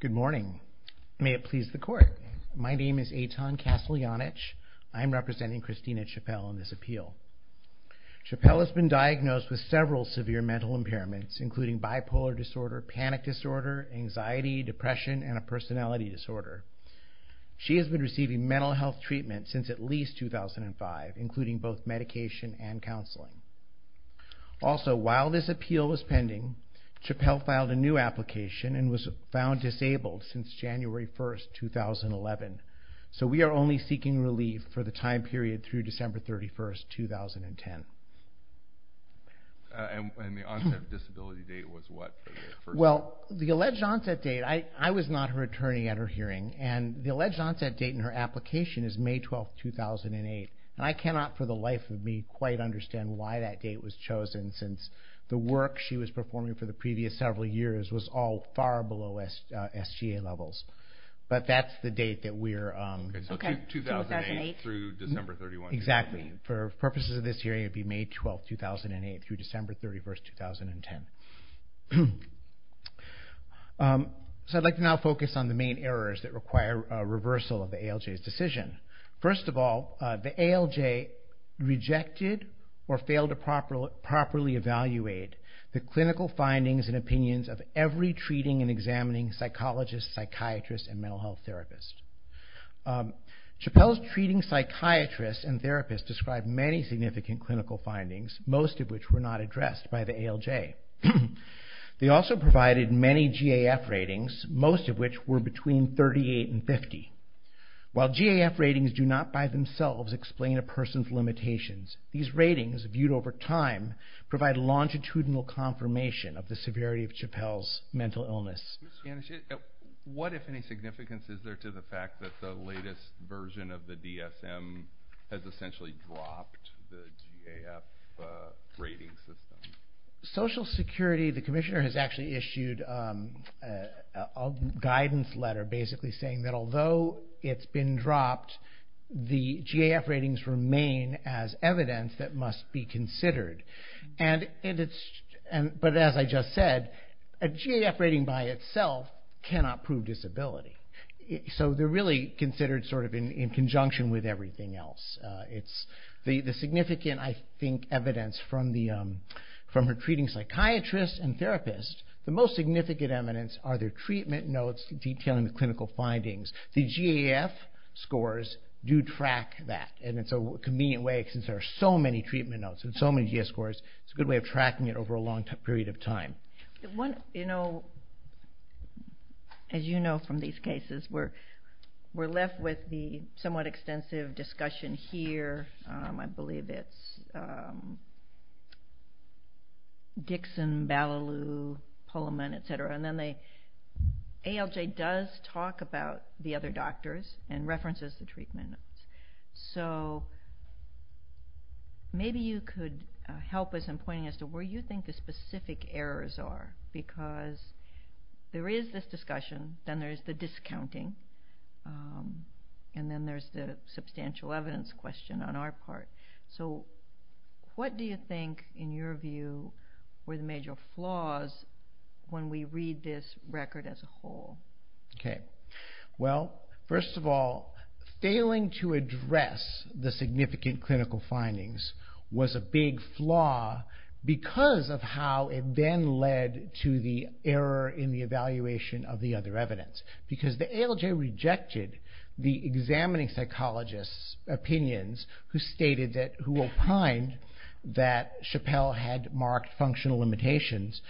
Good morning. May it please the court. My name is a ton Castellanich. I'm representing Christina Chappell on this appeal. Chappell has been diagnosed with several severe mental impairments including bipolar disorder panic disorder anxiety depression and a personality disorder. She has been receiving mental health treatment since at least two thousand and five including both medication and counseling. Also while this appeal is pending. Chappell filed a new application and was found disabled since January first two thousand eleven. So we are only seeking relief for the time period through December thirty first two thousand and ten. And when the onset of disability date was what. Well the alleged onset date I I was not returning at her hearing and the alleged onset date in her application is May twelfth two thousand and eight. I cannot for the life of me quite understand why that date was chosen since the work she was performing for the previous several years was all far below S. S. G. A. levels. But that's the date that we're on. Okay so two thousand eight through December thirty one exactly for purposes of this hearing it be May twelfth two thousand and eight through December thirty first two thousand and ten. So I'd like to now focus on the main errors that require reversal of the ALJ's decision. First of all the ALJ rejected or failed to properly properly evaluate the clinical findings and opinions of every treating and examining psychologist psychiatrist and mental health therapist. Chappelle's treating psychiatrist and therapist described many significant clinical findings most of which were not addressed by the ALJ. They also provided many GAF ratings most of which were between thirty eight and fifty. While GAF ratings do not by themselves explain a person's mental health condition. They do not provide any recommendations these ratings viewed over time provide longitudinal confirmation of the severity of Chappelle's mental illness. What if any significance is there to the fact that the latest version of the DSM. Has essentially dropped the GAF. Ratings. Social security the commissioner has actually issued- a guidance letter basically saying that although it's been dropped the GAF ratings remain as evidence that must be considered. And it's and but as I just said a GAF rating by itself cannot prove disability. So they're really considered sort of in conjunction with everything else. It's the significant I think evidence from the from retreating psychiatrists and therapists the most significant evidence are their treatment notes detailing the clinical findings. The GAF scores do track that and it's a convenient way since there are so many treatment notes and so many GAF scores. It's a good way of tracking it over a long period of time. One you know as you know from these cases where we're left with the somewhat extensive discussion here. I believe it's- Dixon, Ballaloo, Pullman etc. And then they ALJ does talk about the other doctors and references the treatment. So maybe you could help us in pointing as to where you think the specific errors are because there is this discussion then there's the discounting and then there's the substantial evidence question on our part. So what do you think in your view were the major flaws when we read this record as a whole? Okay well first of all failing to address the significant clinical findings was a big flaw because of how it then led to the error in the evaluation of the other evidence. Because the ALJ rejected the examining psychologists opinions who stated that who opined that Chappelle had marked functional limitations.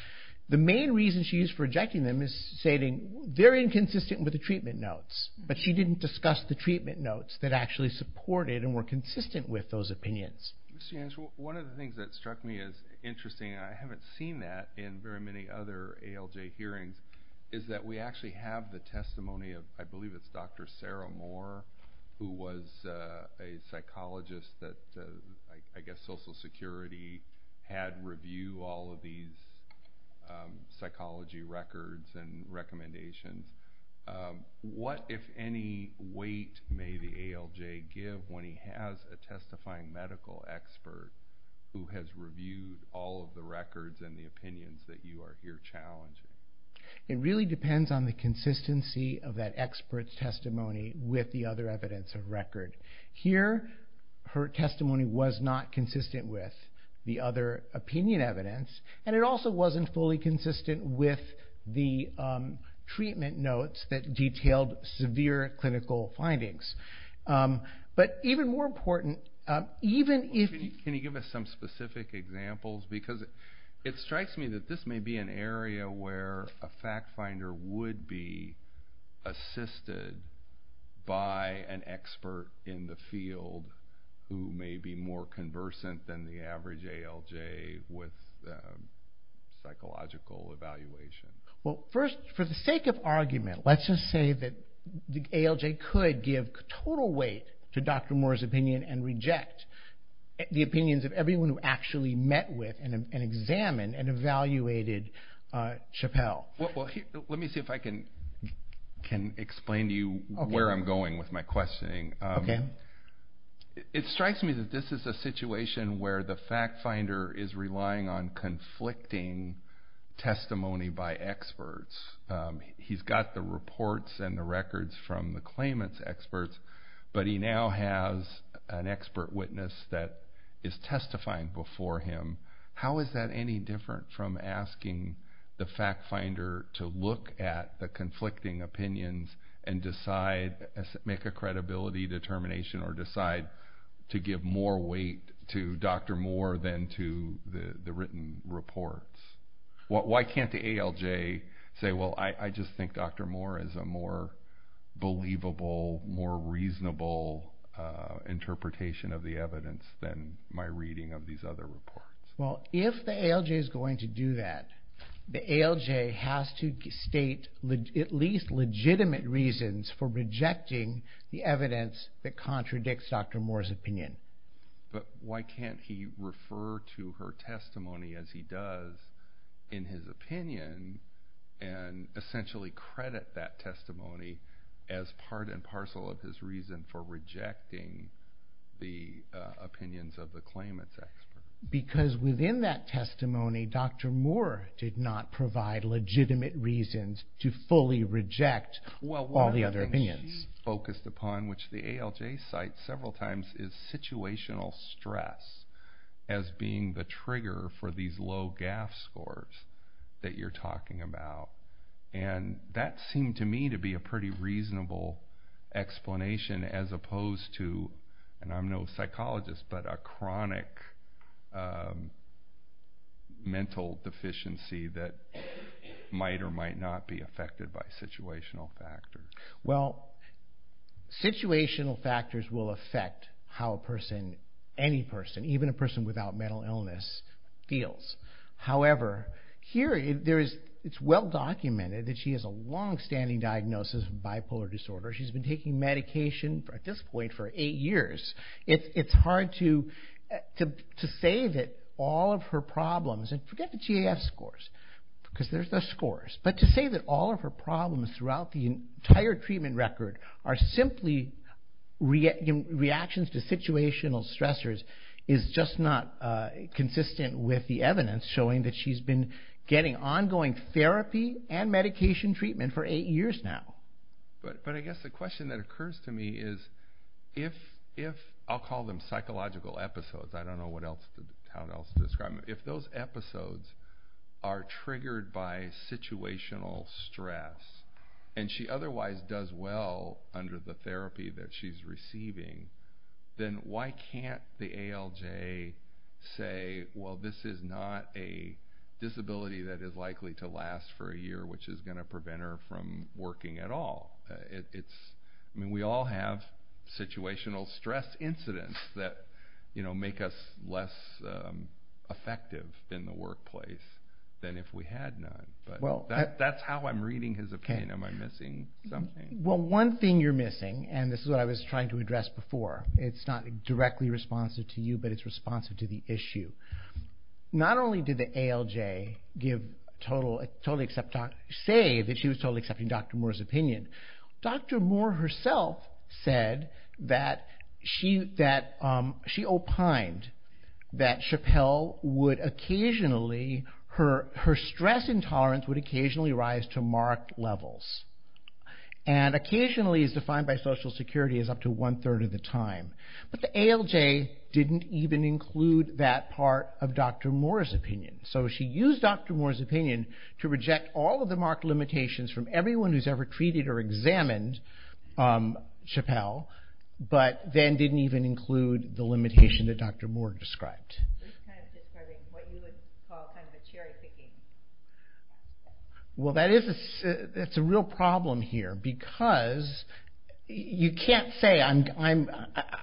The main reason she rejected them is stating they're inconsistent with the treatment notes. But she didn't discuss the treatment notes that actually supported and were consistent with those opinions. One of the things that struck me as interesting I haven't seen that in very many other ALJ hearings is that we actually have the testimony of I believe it's Dr. Sarah Moore who was a psychologist that I guess Social Security had review all these psychology records and recommendations. What if any weight may the ALJ give when he has a testifying medical expert who has reviewed all of the records and the opinions that you are here challenging? It really depends on the consistency of that expert's testimony with the other evidence of record. Here her testimony was not consistent with the other opinion evidence and it also wasn't fully consistent with the treatment notes that detailed severe clinical findings. But even more important even if you can you give us some specific examples because it strikes me that this may be an area where a fact finder would be assisted by an expert in the field who may be more conversant than the average ALJ with psychological evaluation. Well first for the sake of argument let's just say that the ALJ could give total weight to Dr. Moore's opinion and reject the opinions of everyone who actually met with and examined and evaluated Chappell. Well let me see if I can explain to you where I'm going with my questioning. It strikes me that this is a case where the fact finder is relying on conflicting testimony by experts. He's got the reports and the records from the claimants experts but he now has an expert witness that is testifying before him. How is that any different from asking the fact finder to look at the conflicting opinions and decide to make a credibility determination or decide to give more weight to Dr. Moore than to the written reports. Why can't the ALJ say well I just think Dr. Moore is a more believable more reasonable interpretation of the evidence than my reading of these other reports. Well if the ALJ is going to do that the ALJ has to state at least legitimate reasons for rejecting the evidence that contradicts Dr. Moore's opinion. But why can't he refer to her testimony as he does in his opinion and essentially credit that testimony as part and parcel of his reason for rejecting the opinions of the claimants experts. Because within that testimony Dr. Moore did not provide legitimate reasons to fully reject all the other opinions. Well one of the things she focused upon which the ALJ cites several times is situational stress as being the trigger for these low GAF scores that you're talking about. And that seemed to me to be a pretty reasonable explanation as opposed to and I'm no psychologist but a chronic mental deficiency that might or might not be affected by situational factors. Well situational factors will affect how a person any person even a person without mental illness feels. However here it's well documented that she has a long standing diagnosis of bipolar disorder. She's been taking medication at this point for eight years. It's hard to say that all of her problems and forget the GAF scores because there's the scores but to say that all of her problems throughout the entire treatment record are simply reactions to situational stressors is just not consistent with the evidence showing that she's been getting ongoing therapy and medication treatment for eight years now. But I guess the question that occurs to me is if if I'll call them psychological episodes I don't know what else to describe if those episodes are triggered by situational stress and she otherwise does well under the therapy that she's receiving then why can't the ALJ say well this is not a disability that is likely to last for a year which is going to prevent her from working at all. It's I mean we all have situational stress incidents that you know make us less effective in the workplace than if we had not. Well that's how I'm reading his opinion. Am I missing something? Well one thing you're missing and this is what I was trying to address before. It's not directly responsive to you but it's responsive to the issue. Not only did the ALJ give total totally accept say that she was totally accepting Dr. Moore's opinion. Dr. Moore herself said that she that she opined that Chappelle would occasionally her her stress intolerance would occasionally rise to marked levels and occasionally is defined by Social Security as up to one third of the time. But the ALJ didn't even include that part of Dr. Moore's opinion. So she used Dr. Moore's opinion to reject all of the marked limitations from everyone who's ever treated or examined Chappelle but then didn't even include the limitation that Dr. Moore described. Kind of describing what you would call kind of a cherry picking. Well that is a real problem here because you can't say I'm I'm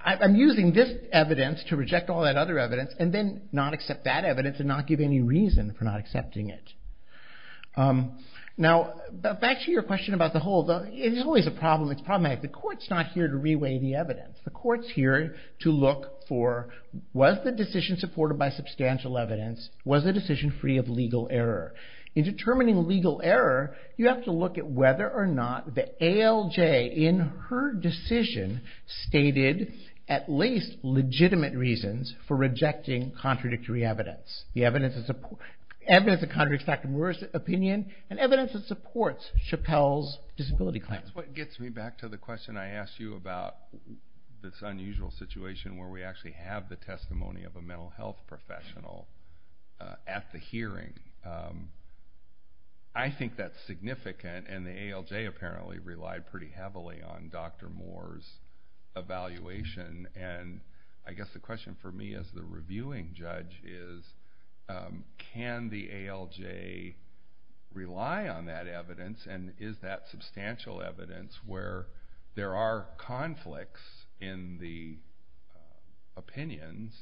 I'm using this evidence to reject all that other evidence and then not accept that evidence and not give any reason for not accepting it. Now back to your question about the whole it is always a problem it's problematic. The courts not here to reweigh the evidence. The courts here to look for was the decision supported by substantial evidence was the decision free of legal error. In determining legal error you have to look at whether or not the ALJ in her decision stated at least legitimate reasons for rejecting contradictory evidence. The evidence is support evidence that contradicts Dr. Moore's opinion and evidence that supports Chappelle's disability claim. That's what gets me back to the question I asked you about this unusual situation where we actually have the testimony of a mental health professional at the hearing. I think that's significant and the ALJ apparently relied pretty heavily on Dr. Moore's evaluation and I guess the question for me as the reviewing judge is can the ALJ rely on that evidence and is that substantial evidence where there are conflicts in the opinions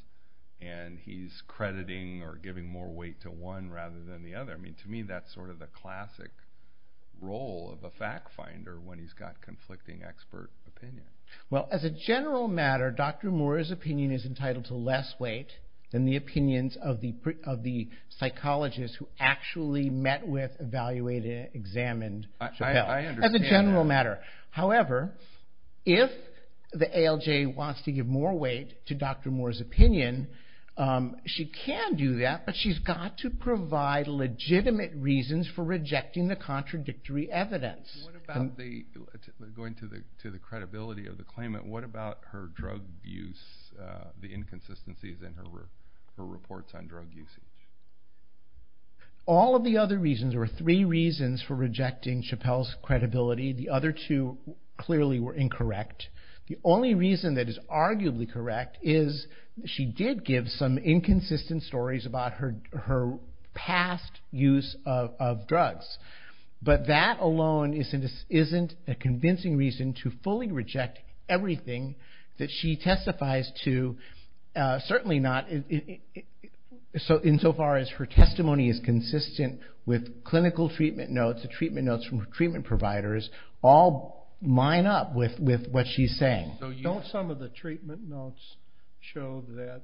and he's crediting or giving more weight to one rather than the other. I mean to me that's sort of the classic role of a fact finder when he's got conflicting expert opinion. Well as a general matter Dr. Moore's opinion is entitled to less weight than the opinions of the of the psychologist who actually met with evaluated examined Chappelle as a general matter. However if the ALJ wants to give more weight to Dr. Moore's opinion she can do that but she's got to provide legitimate reasons for rejecting the contradictory evidence. What about the going to the to the credibility of the claimant what about her drug use the inconsistencies in her reports on drug usage? All of the other reasons or three reasons for rejecting Chappelle's credibility the other two clearly were incorrect. The only reason that is arguably correct is she did give some inconsistent stories about her her past use of drugs but that alone isn't a convincing reason to fully reject everything that she testifies to. Certainly not so insofar as her testimony is consistent with clinical treatment notes the treatment notes from treatment providers all line up with with what she's saying. Don't some of the treatment notes show that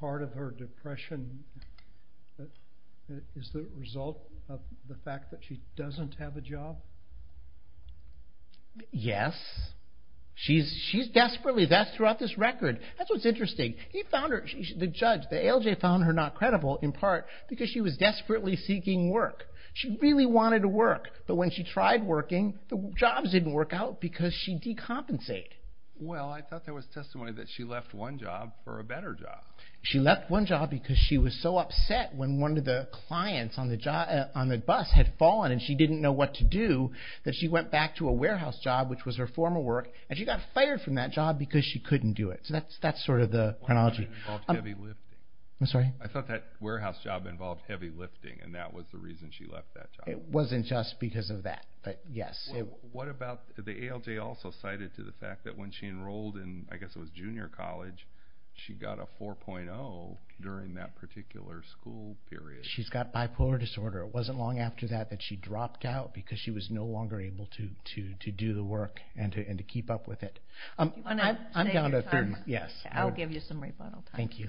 part of her depression is the result of the fact that she doesn't have a job? Yes she's she's desperately that's throughout this record that's what's interesting. He found her the judge the ALJ found her not credible in part because she was desperately seeking work. She really wanted to work but when she tried working the jobs didn't work out because she decompensate. Well I thought there was testimony that she left one job for a better job. She left one job because she was so upset when one of the clients on the job on the bus had fallen and she didn't know what to do that she went back to a warehouse job which was her former work and she got fired from that job because she couldn't do it. So that's that's sort of the chronology. I'm sorry I thought that warehouse job involved heavy lifting and that was the reason why she left. It wasn't just because of that but yes it what about the ALJ also cited to the fact that when she enrolled in I guess it was junior college. She got a four point oh during that particular school period she's got bipolar disorder wasn't long after that that she dropped out because she was no longer able to do to do the work and to and to keep up with it. I'm gonna I'm down to three yes I'll give you some rebuttal thank you.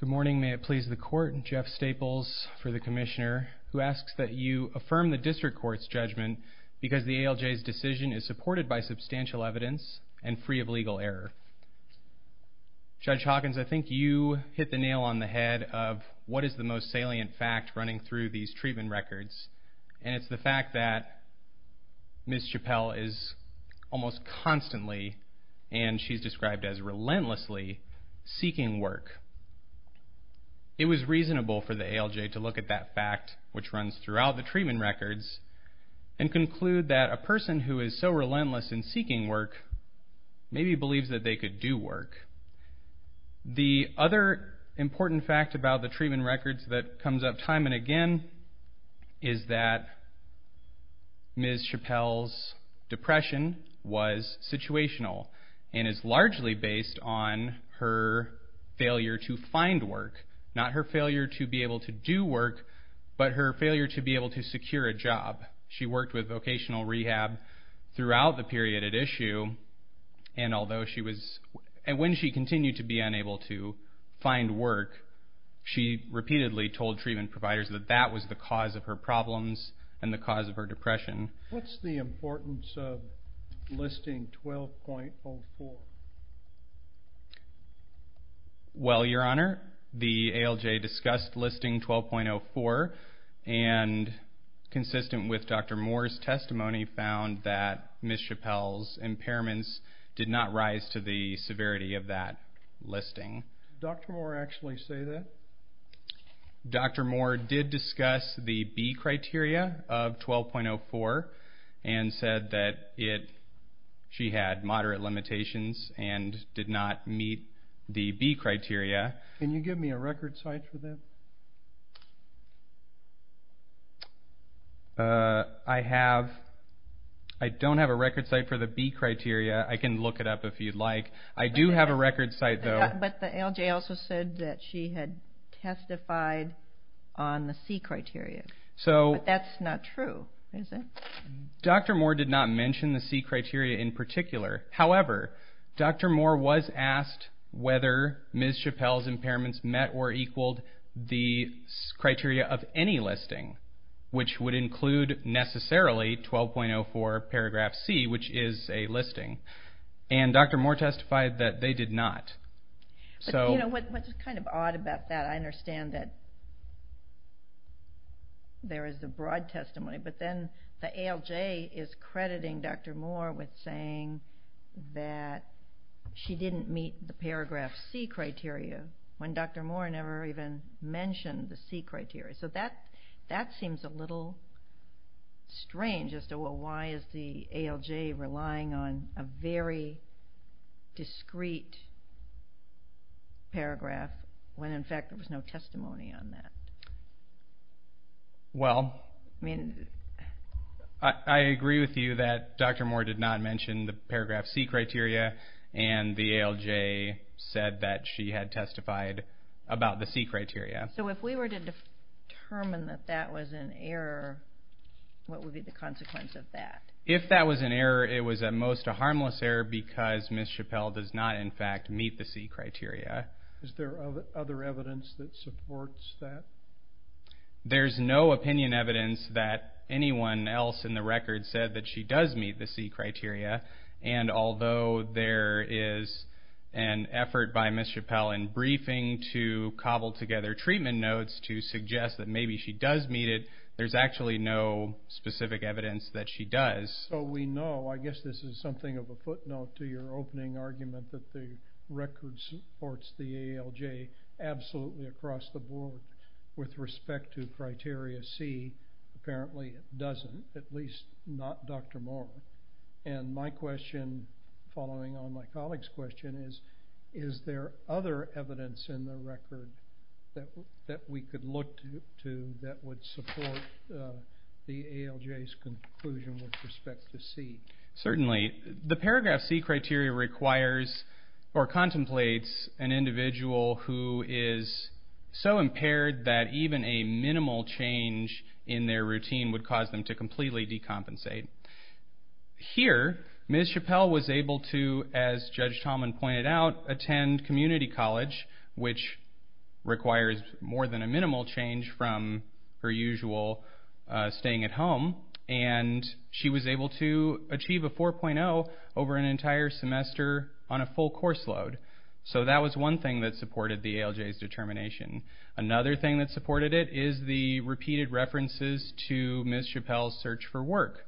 Good morning may it please the court Jeff staples for the commissioner who asks that you affirm the district court's judgment because the ALJ's decision is supported by substantial evidence and free of legal error. Judge Hawkins I think you hit the nail on the head of what is the most salient fact running through these treatment records and it's the fact that. Miss Chappell is almost constantly and she's described as relentlessly seeking work. It was reasonable for the ALJ to look at that fact which runs throughout the treatment records and conclude that a person who is so relentless in seeking work. Maybe believes that they could do work. The other important fact about the treatment records that comes up time and again. Is that. Miss Chappell's depression was situational and is largely based on her failure to find work not her failure to be able to do work but her failure to be able to secure a job she worked with vocational rehab throughout the period at issue. And although she was and when she continued to be unable to. Find work. She repeatedly told treatment providers that that was the cause of her problems and the cause of her depression what's the importance of. Listing twelve point. Well your honor the ALJ discussed listing twelve point oh four. And consistent with Dr. Moore's testimony found that Miss Chappell's impairments did not rise to the severity of that. Listing doctor or actually say that. Dr. Moore did discuss the B. criteria of twelve point oh four and said that it. She had moderate limitations and did not meet the B. criteria and you give me a record site for that. I have. I don't have a record site for the B. criteria I can look it up if you'd like I do have a record site though but the ALJ also said that she had testified. On the C. criteria so that's not true. Dr. Moore did not mention the C. criteria in particular however Dr. Moore was asked whether Miss Chappell's impairments met or equaled the criteria of any listing. Which would include necessarily twelve point oh four paragraph C. which is a listing. And Dr. Moore testified that they did not. So you know what's kind of odd about that I understand that. There is a broad testimony but then the ALJ is crediting Dr. Moore with saying that she didn't meet the paragraph C. criteria when Dr. Moore never even mentioned the C. criteria so that that seems a little. Strange as to why is the ALJ relying on a very. Discreet. Paragraph when in fact there was no testimony on that. Well I mean. I agree with you that Dr. Moore did not mention the paragraph C. criteria and the ALJ said that she had testified about the C. criteria so if we were to determine that that was an error. What would be the consequence of that if that was an error it was at most a harmless error because Ms. Chappelle does not in fact meet the C. criteria. Is there other evidence that supports that? There's no opinion evidence that anyone else in the record said that she does meet the C. criteria and although there is an effort by Ms. Chappelle in briefing to cobble together treatment notes to suggest that maybe she does meet it there's actually no specific evidence that she does. So we know I guess this is something of a footnote to your opening argument that the record supports the ALJ absolutely across the board with respect to criteria C. apparently it doesn't at least not Dr. Moore and my question following on my colleague's question is is there other evidence in the record that we could look to that would support the ALJ's conclusion with respect to C. Certainly the paragraph C. criteria requires or contemplates an individual who is so impaired that even a minimal change in their routine would cause them to completely decompensate. Here Ms. Chappelle was able to as Judge Tallman pointed out attend community college which requires more than a minimal change from her usual staying at home and she was able to achieve a 4.0 over an entire semester on a full course load. So that was one thing that supported the ALJ's determination. Another thing that supported it is the repeated references to Ms. Chappelle's search for work.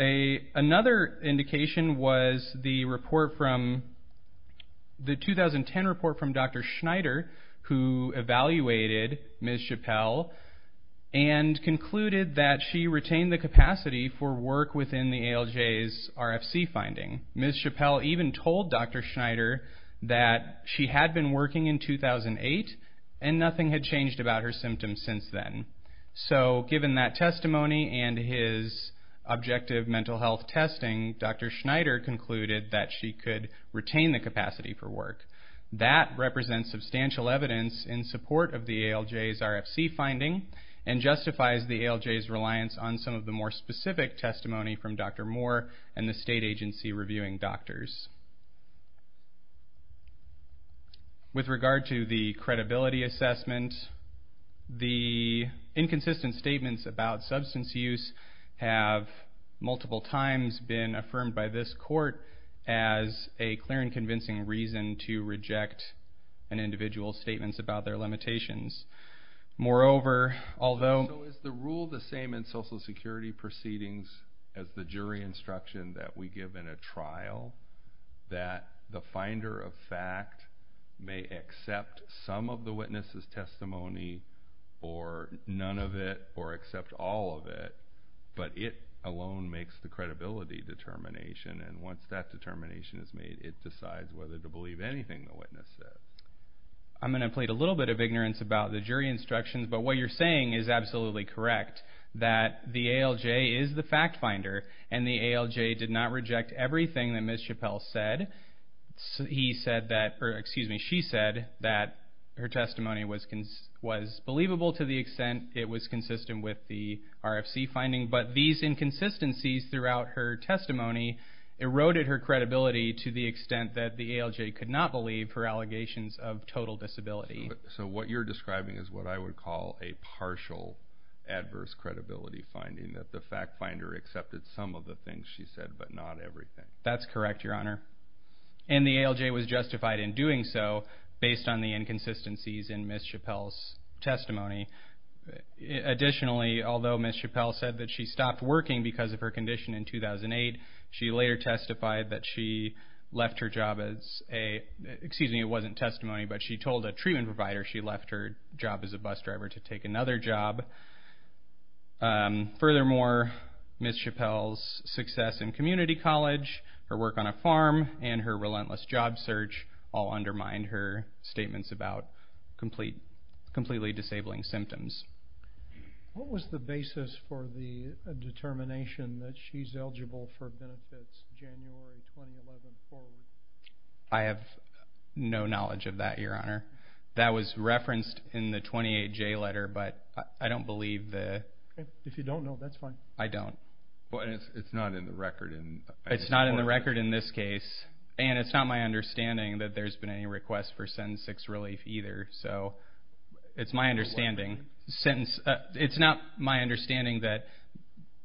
A another indication was the report from the 2010 report from Dr. Schneider who evaluated Ms. Chappelle and concluded that she retained the capacity for work within the ALJ's RFC finding. Ms. Chappelle even told Dr. Schneider that she had been working in 2008 and nothing had changed about her symptoms since then. So given that testimony and his objective mental health testing Dr. Schneider concluded that she could retain the capacity for work. That represents substantial evidence in support of the ALJ's RFC finding and justifies the ALJ's reliance on some of the more specific testimony from Dr. Moore and the state agency reviewing doctors. With regard to the credibility assessment the inconsistent statements about substance use have multiple times been affirmed by this court as a clear and convincing reason to reject an individual's statements about their limitations. Moreover although... So is the rule the same in social security proceedings as the jury instruction that we give in a trial that the finder of fact may accept some of the witness's testimony or none of it or accept all of it but it alone makes the credibility determination and once that determination is made it decides whether to believe anything the witness said. I'm going to plead a little bit of ignorance about the jury instructions but what you're saying is absolutely correct that the ALJ is the fact finder and the ALJ did not reject everything that Ms. Chappell said. He said that or excuse me she said that her testimony was was believable to the extent it was consistent with the RFC finding but these inconsistencies throughout her testimony eroded her credibility to the extent that the ALJ could not believe her total disability. So what you're describing is what I would call a partial adverse credibility finding that the fact finder accepted some of the things she said but not everything. That's correct Your Honor and the ALJ was justified in doing so based on the inconsistencies in Ms. Chappell's testimony. Additionally although Ms. Chappell said that she stopped working because of her condition in 2008 she later testified that she left her job as a excuse me it wasn't testimony but she told a treatment provider she left her job as a bus driver to take another job. Furthermore Ms. Chappell's success in community college her work on a farm and her relentless job search all undermined her statements about complete completely disabling symptoms. What was the basis for the determination that she's eligible for benefits. I have no knowledge of that Your Honor that was referenced in the twenty eight J letter but I don't believe that if you don't know that's fine I don't it's not in the record and it's not in the record in this case and it's not my understanding that there's been any request for sentence six relief either so it's my understanding since it's not my understanding that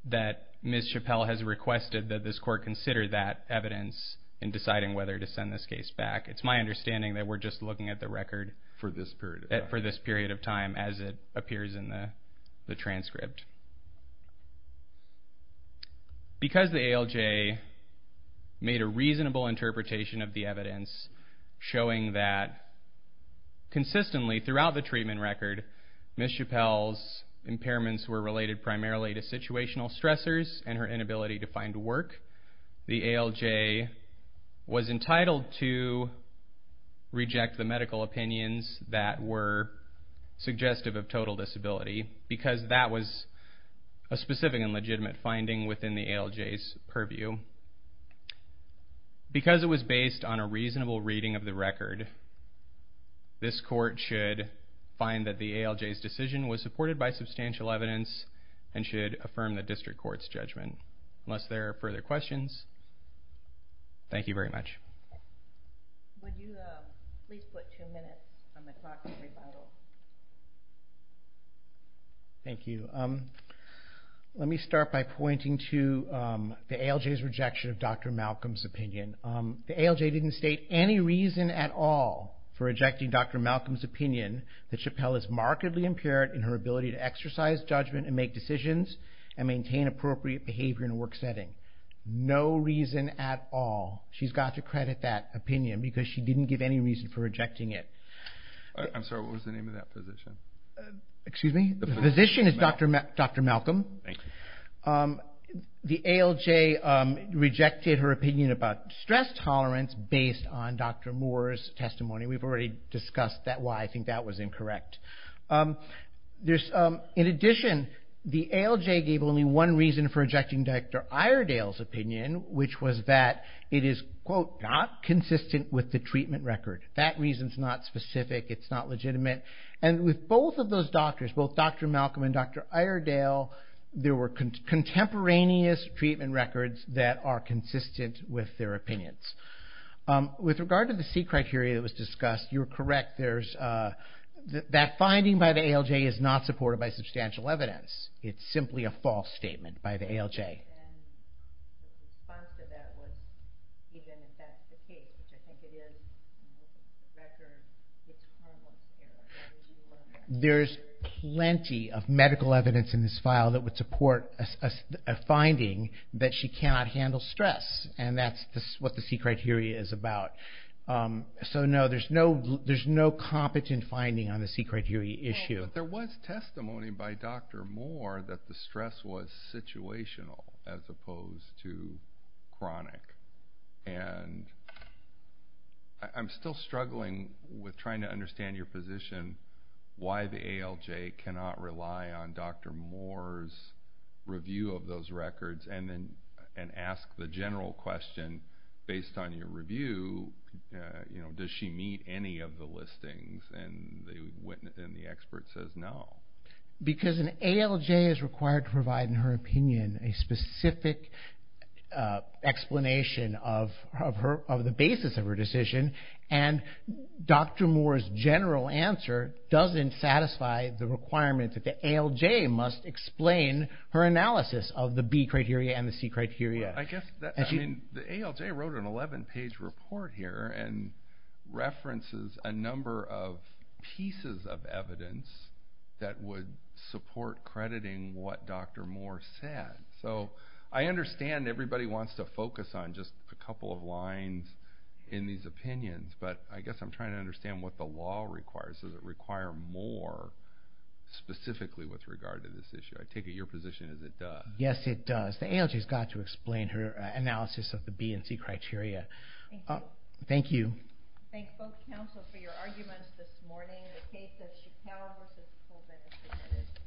that Ms. Chappell has requested that this court consider that she's requested that this court consider that evidence in deciding whether to send this case back it's my understanding that we're just looking at the record for this period for this period of time as it appears in the transcript. Because the ALJ made a reasonable interpretation of the evidence showing that consistently throughout the treatment record Ms. Chappell's impairments were related primarily to situational stressors and her inability to work the ALJ was entitled to reject the medical opinions that were suggestive of total disability because that was a specific and legitimate finding within the ALJ's purview. Because it was based on a reasonable reading of the record this court should find that the ALJ's decision was supported by substantial evidence and should affirm the district court's judgment unless there are further questions. Thank you very much. Thank you. Let me start by pointing to the ALJ's rejection of Dr. Malcolm's opinion. The ALJ didn't state any reason at all for rejecting Dr. Malcolm's opinion that Chappell is markedly impaired in her ability to exercise judgment and make decisions and maintain appropriate behavior in a work setting. No reason at all. She's got to credit that opinion because she didn't give any reason for rejecting it. I'm sorry what was the name of that physician. Excuse me. The physician is Dr. Dr. Malcolm. The ALJ rejected her opinion about stress tolerance based on Dr. Moore's testimony. We've already discussed that why I think that was incorrect. In addition the ALJ gave only one reason for Iredale's opinion which was that it is quote not consistent with the treatment record. That reason is not specific. It's not legitimate. And with both of those doctors both Dr. Malcolm and Dr. Iredale there were contemporaneous treatment records that are consistent with their opinions. With regard to the C criteria that was discussed you're correct. That finding by the ALJ is not supported by substantial evidence. It's simply a false statement by the ALJ. The response to that was even if that's the case. Which I think it is in the record. There's plenty of medical evidence in this file that would support a finding that she cannot handle stress. And that's what the C criteria is about. So no there's no there's no competent finding on the C criteria issue. But there was testimony by Dr. Moore that the stress was too chronic. And I'm still struggling with trying to understand your position. Why the ALJ cannot rely on Dr. Moore's review of those records and then and ask the general question based on your review. You know does she meet any of the listings and the witness and the expert says no. Because an ALJ is required to provide in her opinion a specific explanation of her of the basis of her decision. And Dr. Moore's general answer doesn't satisfy the requirement that the ALJ must explain her analysis of the B criteria and the C criteria. I guess that the ALJ wrote an 11 page report here and references a number of pieces of evidence that would support crediting what Dr. Moore said. So I understand everybody wants to focus on just a couple of lines in these opinions. But I guess I'm trying to understand what the law requires. Does it require more specifically with regard to this issue. I take it your position is that yes it does. The ALJ has got to explain her analysis of the B and C criteria. Thank you. Thank both counsel for your arguments this morning. The case of Chicale v.